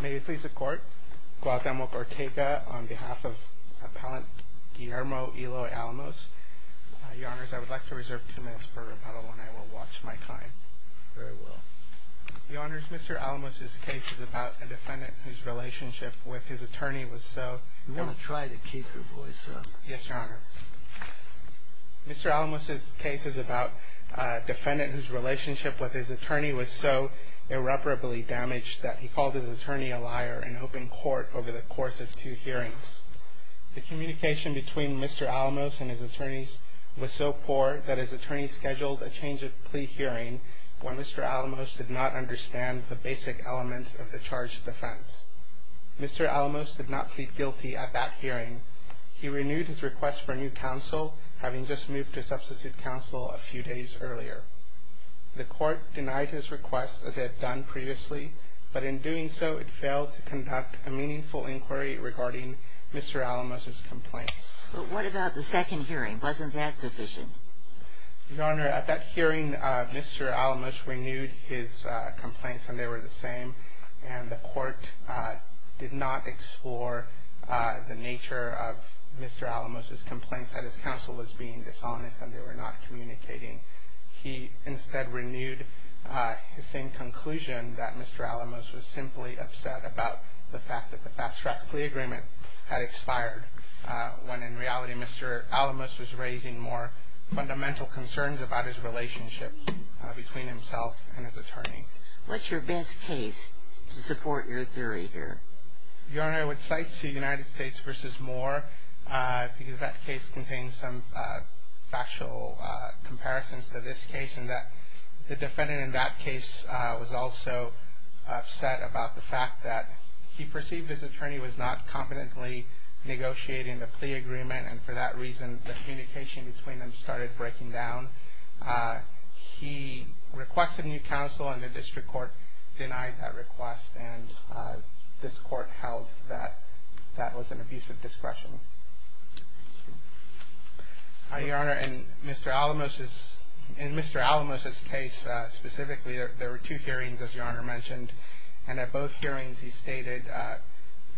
May it please the court, Guadalupe Ortega on behalf of Appellant Guillermo Eloy Alamos. Your honors, I would like to reserve two minutes for rebuttal and I will watch my time. Very well. Your honors, Mr. Alamos' case is about a defendant whose relationship with his attorney was so... You want to try to keep your voice up. Yes, your honor. Mr. Alamos' case is about a defendant whose relationship with his attorney was so irreparably damaged that he called his attorney a liar in open court over the course of two hearings. The communication between Mr. Alamos and his attorneys was so poor that his attorney scheduled a change of plea hearing when Mr. Alamos did not understand the basic elements of the charge of defense. Mr. Alamos did not plead guilty at that hearing. He renewed his request for new counsel, having just moved to substitute counsel a few days earlier. The court denied his request as it had done previously, but in doing so it failed to conduct a meaningful inquiry regarding Mr. Alamos' complaints. But what about the second hearing? Wasn't that sufficient? Your honor, at that hearing Mr. Alamos renewed his complaints and they were the same and the court did not explore the nature of Mr. Alamos' complaints that his counsel was being dishonest and they were not communicating. He instead renewed his same conclusion that Mr. Alamos was simply upset about the fact that the fast track plea agreement had expired when in reality Mr. Alamos was raising more fundamental concerns about his relationship between himself and his attorney. What's your best case to support your theory here? Your honor, I would cite United States v. Moore because that case contains some factual comparisons to this case and the defendant in that case was also upset about the fact that he perceived his attorney was not competently negotiating the plea agreement and for that reason the communication between them started breaking down. He requested new counsel and the district court denied that request and this court held that that was an abuse of discretion. Your honor, in Mr. Alamos' case specifically there were two hearings as your honor mentioned and at both hearings he stated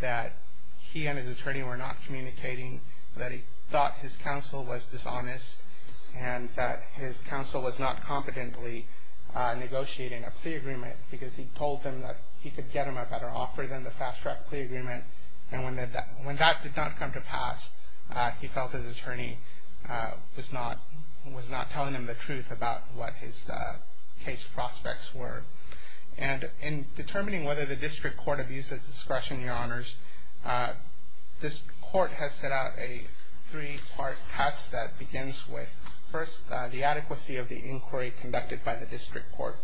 that he and his attorney were not communicating that he thought his counsel was dishonest and that his counsel was not competently negotiating a plea agreement because he told him that he could get him a better offer than the fast track plea agreement and when that did not come to pass he felt his attorney was not telling him the truth about what his case prospects were. And in determining whether the district court abuses discretion, your honors, this court has set out a three part test that begins with first the adequacy of the inquiry conducted by the district court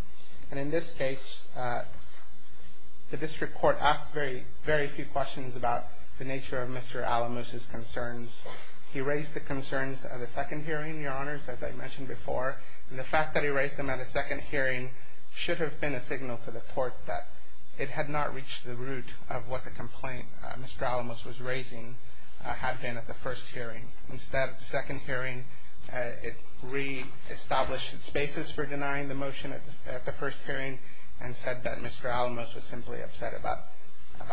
and in this case the district court asked very few questions about the nature of Mr. Alamos' concerns. He raised the concerns at a second hearing, your honors, as I mentioned before and the fact that he raised them at a second hearing should have been a signal to the court that it had not reached the root of what the complaint Mr. Alamos was raising had been at the first hearing. At the second hearing it reestablished its basis for denying the motion at the first hearing and said that Mr. Alamos was simply upset about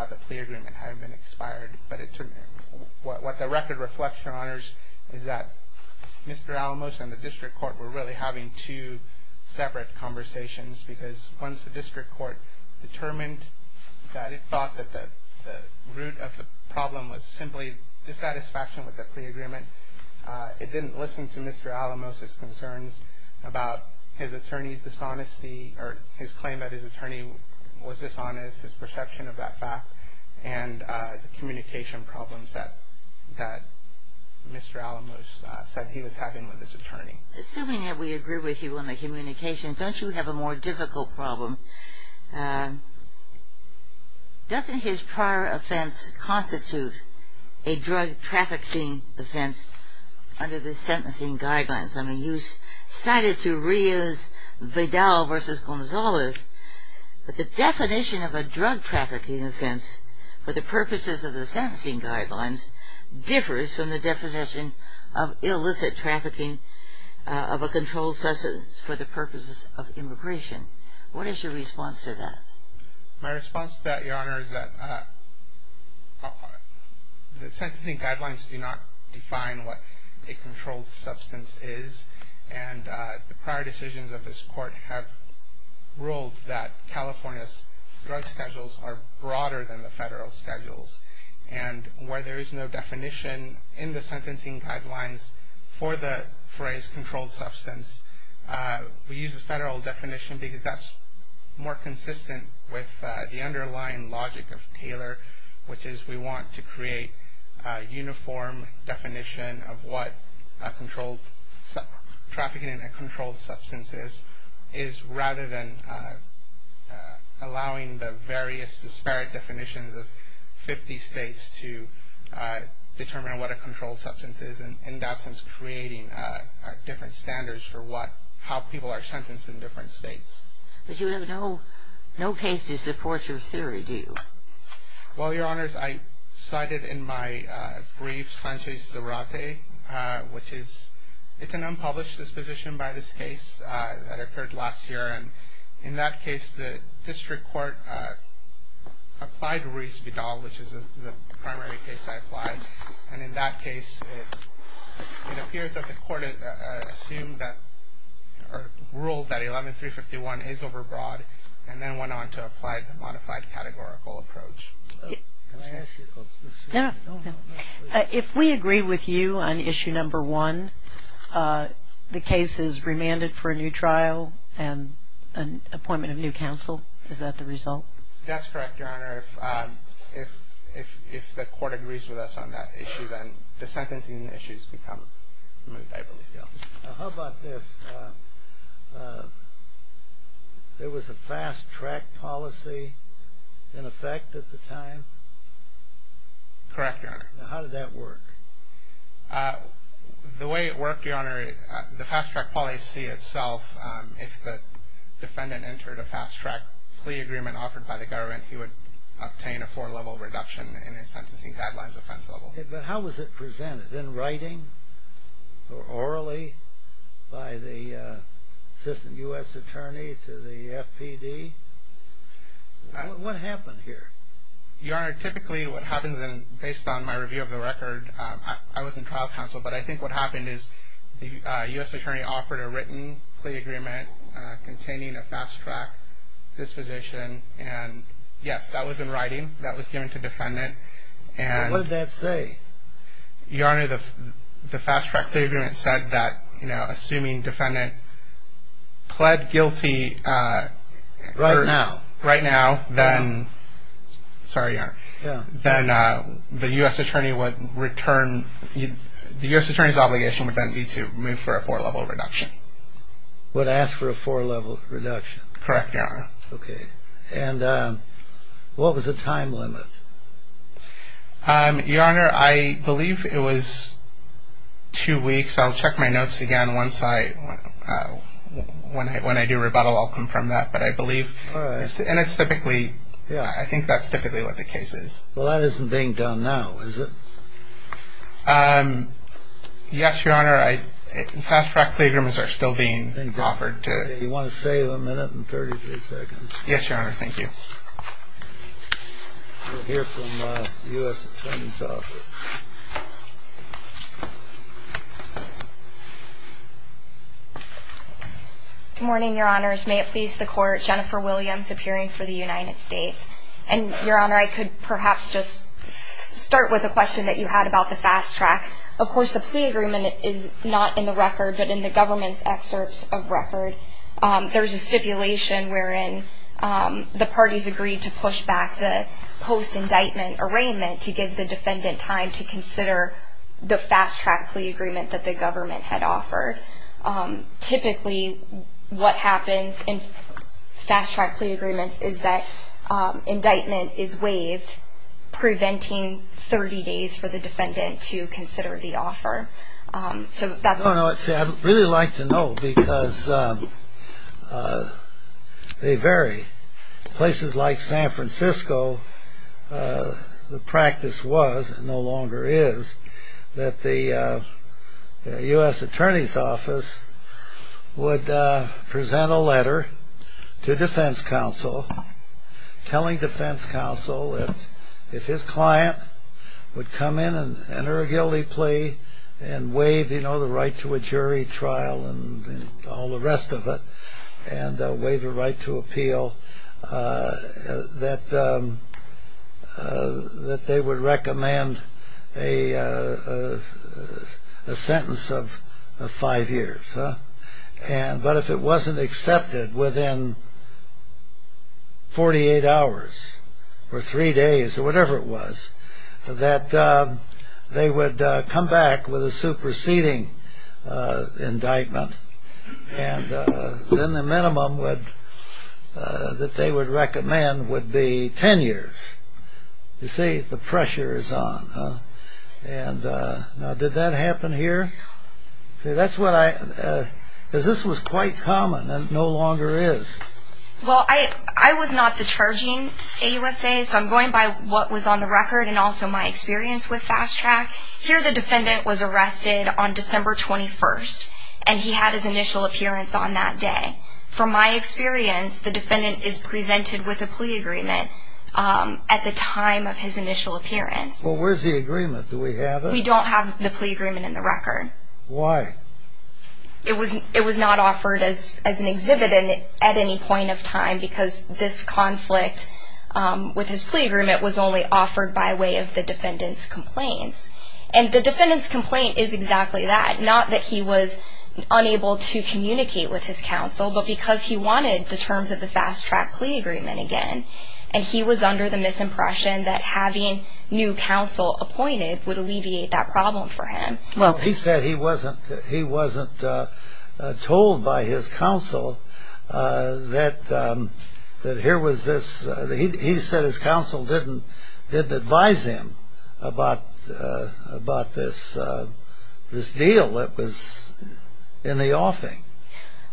the plea agreement having been expired. What the record reflects, your honors, is that Mr. Alamos and the district court were really having two separate conversations because once the district court determined that it thought that the root of the problem was simply dissatisfaction with the plea agreement, it didn't listen to Mr. Alamos' concerns about his attorney's dishonesty or his claim that his attorney was dishonest, his perception of that fact and the communication problems that Mr. Alamos said he was having with his attorney. Assuming that we agree with you on the communication, don't you have a more difficult problem? Doesn't his prior offense constitute a drug trafficking offense under the sentencing guidelines? I mean, you cited to Rios, Vidal versus Gonzalez, but the definition of a drug trafficking offense for the purposes of the sentencing guidelines differs from the definition of illicit trafficking of a controlled substance for the purposes of immigration. What is your response to that? My response to that, your honors, is that the sentencing guidelines do not define what a controlled substance is and the prior decisions of this court have ruled that California's drug schedules are broader than the federal schedules and where there is no definition in the sentencing guidelines for the phrase controlled substance, we use the federal definition because that's more consistent with the underlying logic of Taylor, which is we want to create a uniform definition of what trafficking in a controlled substance is, rather than allowing the various disparate definitions of 50 states to determine what a controlled substance is and in that sense creating different standards for how people are sentenced in different states. But you have no case to support your theory, do you? Well, your honors, I cited in my brief Sanchez Zarate, which is an unpublished disposition by this case that occurred last year and in that case the district court applied Reese Vidal, which is the primary case I applied, and in that case it appears that the court assumed or ruled that 11351 is overbroad and then went on to apply the modified categorical approach. Can I ask you a question? Yeah. If we agree with you on issue number one, the case is remanded for a new trial and an appointment of new counsel, is that the result? That's correct, your honor. If the court agrees with us on that issue, then the sentencing issues become removed, I believe, yes. How about this? There was a fast-track policy in effect at the time? Correct, your honor. How did that work? The way it worked, your honor, the fast-track policy itself, if the defendant entered a fast-track plea agreement offered by the government, he would obtain a four-level reduction in his sentencing deadline's offense level. But how was it presented, in writing or orally by the assistant U.S. attorney to the FPD? What happened here? Your honor, typically what happens, based on my review of the record, I was in trial counsel, but I think what happened is the U.S. attorney offered a written plea agreement containing a fast-track disposition, and yes, that was in writing, that was given to the defendant. What did that say? Your honor, the fast-track plea agreement said that, you know, assuming defendant pled guilty... Right now. Right now, then, sorry, your honor, then the U.S. attorney would return, the U.S. attorney's obligation would then be to move for a four-level reduction. Would ask for a four-level reduction. Correct, your honor. And what was the time limit? Your honor, I believe it was two weeks. I'll check my notes again once I, when I do rebuttal, I'll confirm that. But I believe, and it's typically, I think that's typically what the case is. Well, that isn't being done now, is it? Yes, your honor, fast-track plea agreements are still being offered. Do you want to save a minute and 33 seconds? Yes, your honor, thank you. We'll hear from the U.S. attorney's office. Good morning, your honors. May it please the Court. Jennifer Williams, appearing for the United States. And, your honor, I could perhaps just start with a question that you had about the fast-track. Of course, the plea agreement is not in the record, but in the government's excerpts of record. There's a stipulation wherein the parties agreed to push back the post-indictment arraignment to give the defendant time to consider the fast-track plea agreement that the government had offered. Typically, what happens in fast-track plea agreements is that indictment is waived, preventing 30 days for the defendant to consider the offer. I'd really like to know because they vary. Places like San Francisco, the practice was, and no longer is, that the U.S. attorney's office would present a letter to defense counsel telling defense counsel that if his client would come in and enter a guilty plea and waive the right to a jury trial and all the rest of it, and waive the right to appeal, that they would recommend a sentence of five years. But if it wasn't accepted within 48 hours, or three days, or whatever it was, that they would come back with a superseding indictment, and then the minimum that they would recommend would be 10 years. You see, the pressure is on. Now, did that happen here? See, that's what I, because this was quite common and no longer is. Well, I was not the charging AUSA, so I'm going by what was on the record and also my experience with fast-track. Here, the defendant was arrested on December 21st, and he had his initial appearance on that day. From my experience, the defendant is presented with a plea agreement at the time of his initial appearance. Well, where's the agreement? Do we have it? We don't have the plea agreement in the record. Why? It was not offered as an exhibit at any point of time because this conflict with his plea agreement was only offered by way of the defendant's complaints. And the defendant's complaint is exactly that, not that he was unable to communicate with his counsel, but because he wanted the terms of the fast-track plea agreement again, and he was under the misimpression that having new counsel appointed would alleviate that problem for him. Well, he said he wasn't told by his counsel that here was this, he said his counsel didn't advise him about this deal that was in the offing.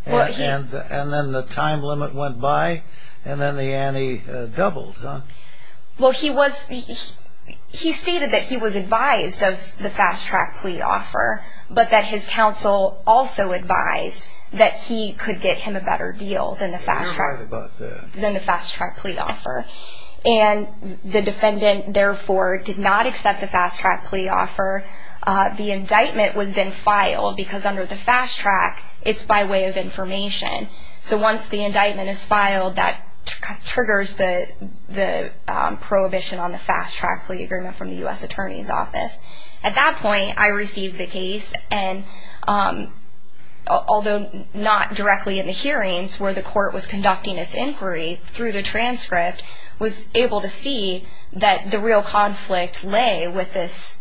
And then the time limit went by, and then the ante doubled. Well, he stated that he was advised of the fast-track plea offer, but that his counsel also advised that he could get him a better deal than the fast-track plea offer. And the defendant, therefore, did not accept the fast-track plea offer. The indictment was then filed because under the fast-track, it's by way of information. So once the indictment is filed, that triggers the prohibition on the fast-track plea agreement from the U.S. Attorney's Office. At that point, I received the case, and although not directly in the hearings, where the court was conducting its inquiry through the transcript, was able to see that the real conflict lay with this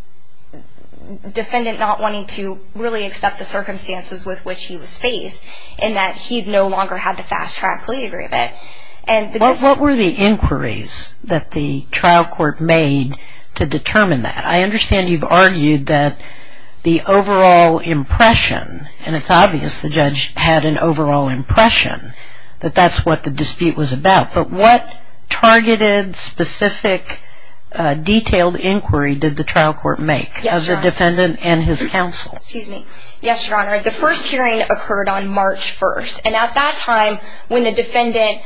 defendant not wanting to really accept the circumstances with which he was faced, and that he no longer had the fast-track plea agreement. What were the inquiries that the trial court made to determine that? I understand you've argued that the overall impression, and it's obvious the judge had an overall impression, that that's what the dispute was about. But what targeted, specific, detailed inquiry did the trial court make as a defendant and his counsel? Yes, Your Honor. The first hearing occurred on March 1st, and at that time when the defendant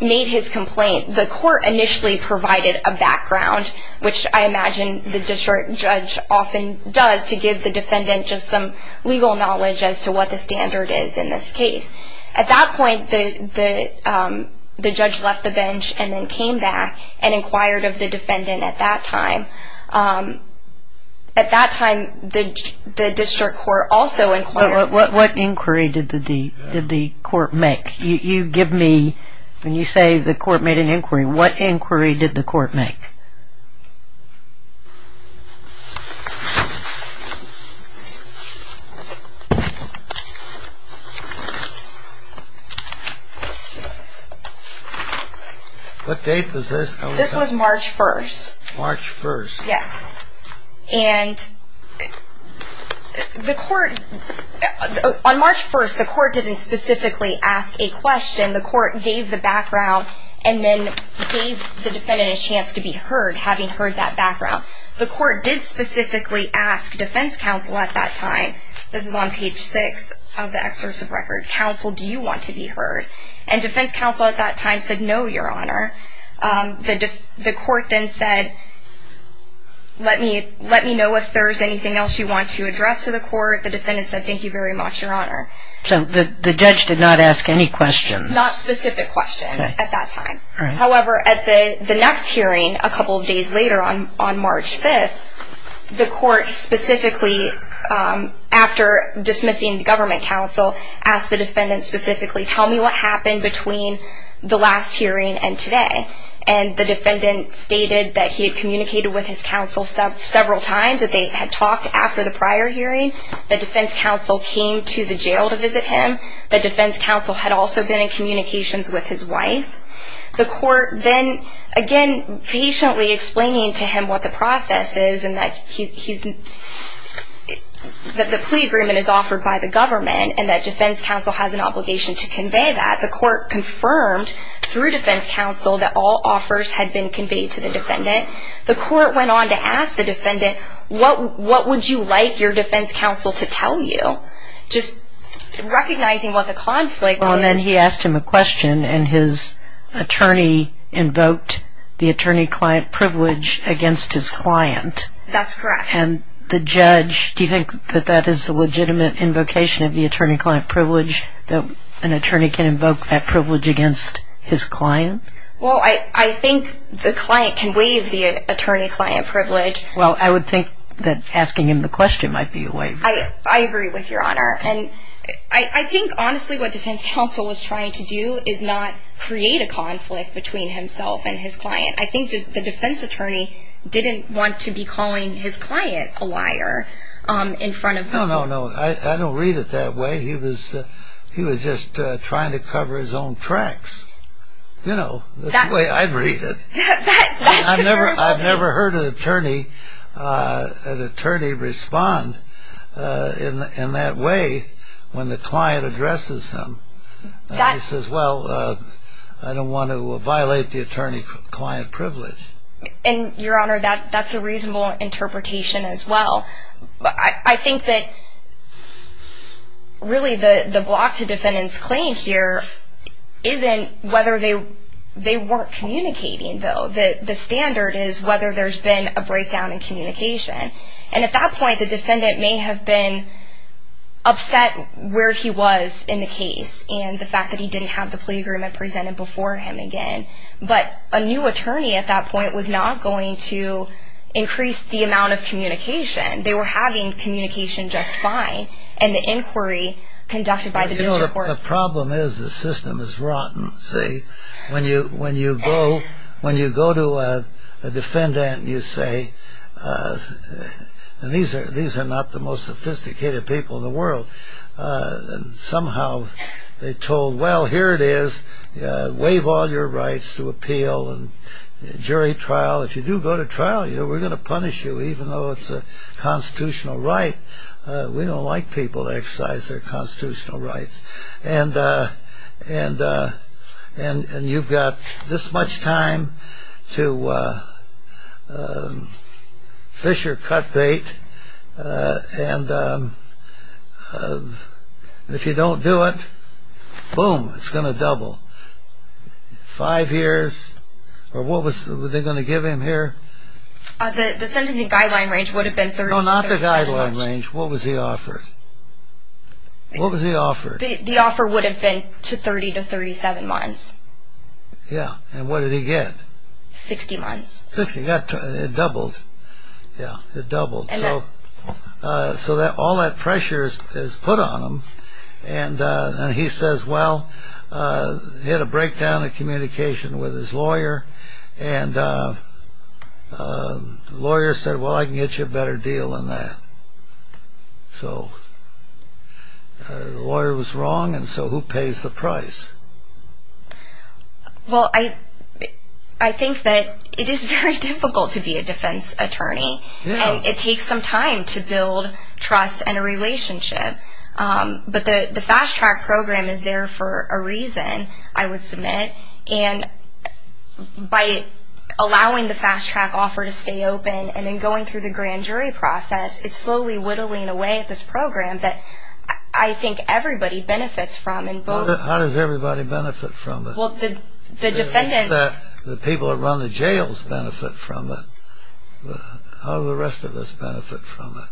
made his complaint, the court initially provided a background, which I imagine the district judge often does to give the defendant just some legal knowledge as to what the standard is in this case. At that point, the judge left the bench and then came back and inquired of the defendant at that time. At that time, the district court also inquired. What inquiry did the court make? You give me, when you say the court made an inquiry, what inquiry did the court make? What date was this? This was March 1st. March 1st. Yes. And the court, on March 1st, the court didn't specifically ask a question. The court gave the background and then gave the defendant a chance to be heard, having heard that background. The court did specifically ask defense counsel at that time, this is on page 6 of the excursive record, counsel, do you want to be heard? And defense counsel at that time said, no, Your Honor. The court then said, let me know if there's anything else you want to address to the court. The defendant said, thank you very much, Your Honor. So the judge did not ask any questions. Not specific questions at that time. However, at the next hearing, a couple of days later on March 5th, the court specifically, after dismissing the government counsel, asked the defendant specifically, tell me what happened between the last hearing and today. And the defendant stated that he had communicated with his counsel several times, that they had talked after the prior hearing. The defense counsel came to the jail to visit him. The defense counsel had also been in communications with his wife. The court then, again, patiently explaining to him what the process is and that the plea agreement is offered by the government and that defense counsel has an obligation to convey that. The court confirmed through defense counsel that all offers had been conveyed to the defendant. The court went on to ask the defendant, what would you like your defense counsel to tell you? Just recognizing what the conflict is. And then he asked him a question, and his attorney invoked the attorney-client privilege against his client. That's correct. And the judge, do you think that that is a legitimate invocation of the attorney-client privilege, that an attorney can invoke that privilege against his client? Well, I think the client can waive the attorney-client privilege. Well, I would think that asking him the question might be a way. I agree with Your Honor. And I think, honestly, what defense counsel was trying to do is not create a conflict between himself and his client. I think the defense attorney didn't want to be calling his client a liar in front of him. No, no, no. I don't read it that way. He was just trying to cover his own tracks, you know, the way I read it. I've never heard an attorney respond in that way when the client addresses him. He says, well, I don't want to violate the attorney-client privilege. And, Your Honor, that's a reasonable interpretation as well. I think that really the block to defendant's claim here isn't whether they weren't communicating, though. The standard is whether there's been a breakdown in communication. And at that point, the defendant may have been upset where he was in the case and the fact that he didn't have the plea agreement presented before him again. But a new attorney at that point was not going to increase the amount of communication. They were having communication just fine. And the inquiry conducted by the district court. The problem is the system is rotten, see. When you go to a defendant and you say, these are not the most sophisticated people in the world. Somehow they told, well, here it is. Waive all your rights to appeal and jury trial. If you do go to trial, we're going to punish you even though it's a constitutional right. We don't like people to exercise their constitutional rights. And you've got this much time to fish or cut bait. And if you don't do it, boom, it's going to double. Five years. What were they going to give him here? The sentencing guideline range would have been 30 percent. No, not the guideline range. What was he offered? What was he offered? The offer would have been 30 to 37 months. Yeah. And what did he get? 60 months. 60. It doubled. Yeah, it doubled. So all that pressure is put on him. And he says, well, he had a breakdown of communication with his lawyer. And the lawyer said, well, I can get you a better deal than that. So the lawyer was wrong, and so who pays the price? Well, I think that it is very difficult to be a defense attorney. And it takes some time to build trust and a relationship. But the Fast Track program is there for a reason, I would submit. And by allowing the Fast Track offer to stay open and then going through the grand jury process, it's slowly whittling away at this program that I think everybody benefits from. How does everybody benefit from it? Well, the defendants. The people who run the jails benefit from it. How do the rest of us benefit from it?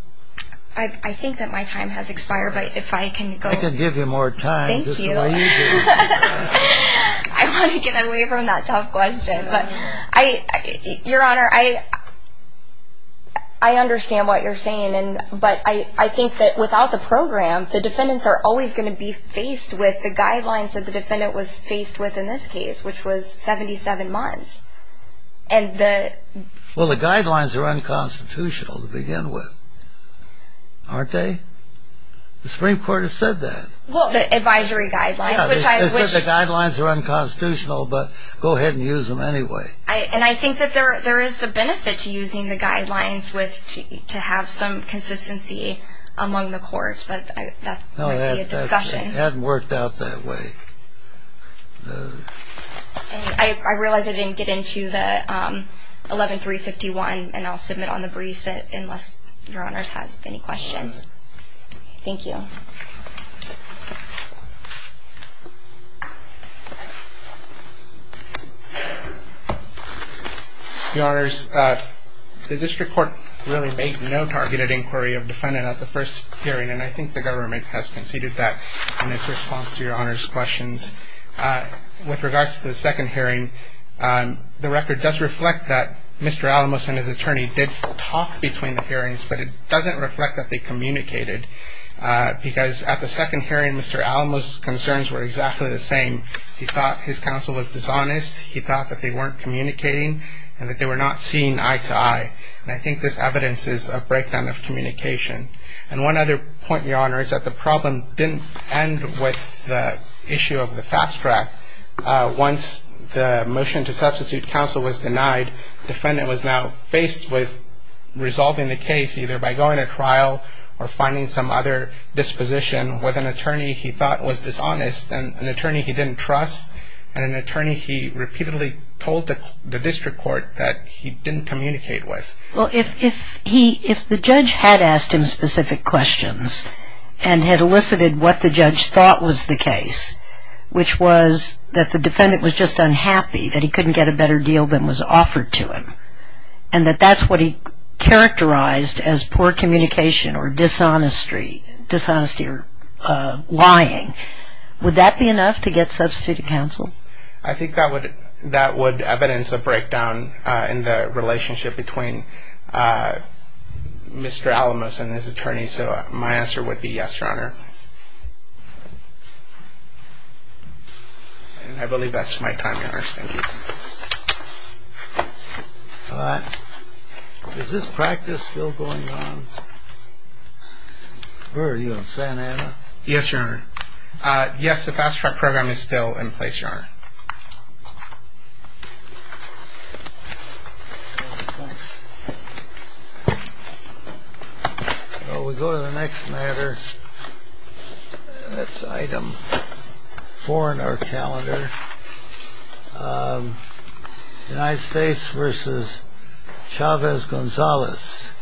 I think that my time has expired, but if I can go. I can give you more time just the way you do. Thank you. I want to get away from that tough question. Your Honor, I understand what you're saying. But I think that without the program, the defendants are always going to be faced with the guidelines that the defendant was faced with in this case, which was 77 months. Well, the guidelines are unconstitutional to begin with, aren't they? The Supreme Court has said that. Well, the advisory guidelines. The guidelines are unconstitutional, but go ahead and use them anyway. And I think that there is a benefit to using the guidelines to have some consistency among the courts, but that would be a discussion. It hadn't worked out that way. I realize I didn't get into the 11351, and I'll submit on the briefs unless Your Honors have any questions. Thank you. Your Honors, the district court really made no targeted inquiry of the defendant at the first hearing, and I think the government has conceded that in its response to Your Honors' questions. With regards to the second hearing, the record does reflect that Mr. Alamos and his attorney did talk between the hearings, but it doesn't reflect that they communicated, because at the second hearing Mr. Alamos' concerns were exactly the same. He thought his counsel was dishonest. He thought that they weren't communicating and that they were not seeing eye to eye, and I think this evidence is a breakdown of communication. And one other point, Your Honors, that the problem didn't end with the issue of the fast track. Once the motion to substitute counsel was denied, the defendant was now faced with resolving the case either by going to trial or finding some other disposition with an attorney he thought was dishonest, an attorney he didn't trust, and an attorney he repeatedly told the district court that he didn't communicate with. Well, if the judge had asked him specific questions and had elicited what the judge thought was the case, which was that the defendant was just unhappy that he couldn't get a better deal than was offered to him, and that that's what he characterized as poor communication or dishonesty or lying, would that be enough to get substituted counsel? I think that would evidence a breakdown in the relationship between Mr. Alamos and his attorney, Your Honor. And I believe that's my time, Your Honor. Thank you. Is this practice still going on? Burr, are you in Santa Ana? Yes, Your Honor. Yes, the fast track program is still in place, Your Honor. Thanks. Well, we go to the next matter. That's item four in our calendar. United States versus Chavez-Gonzalez.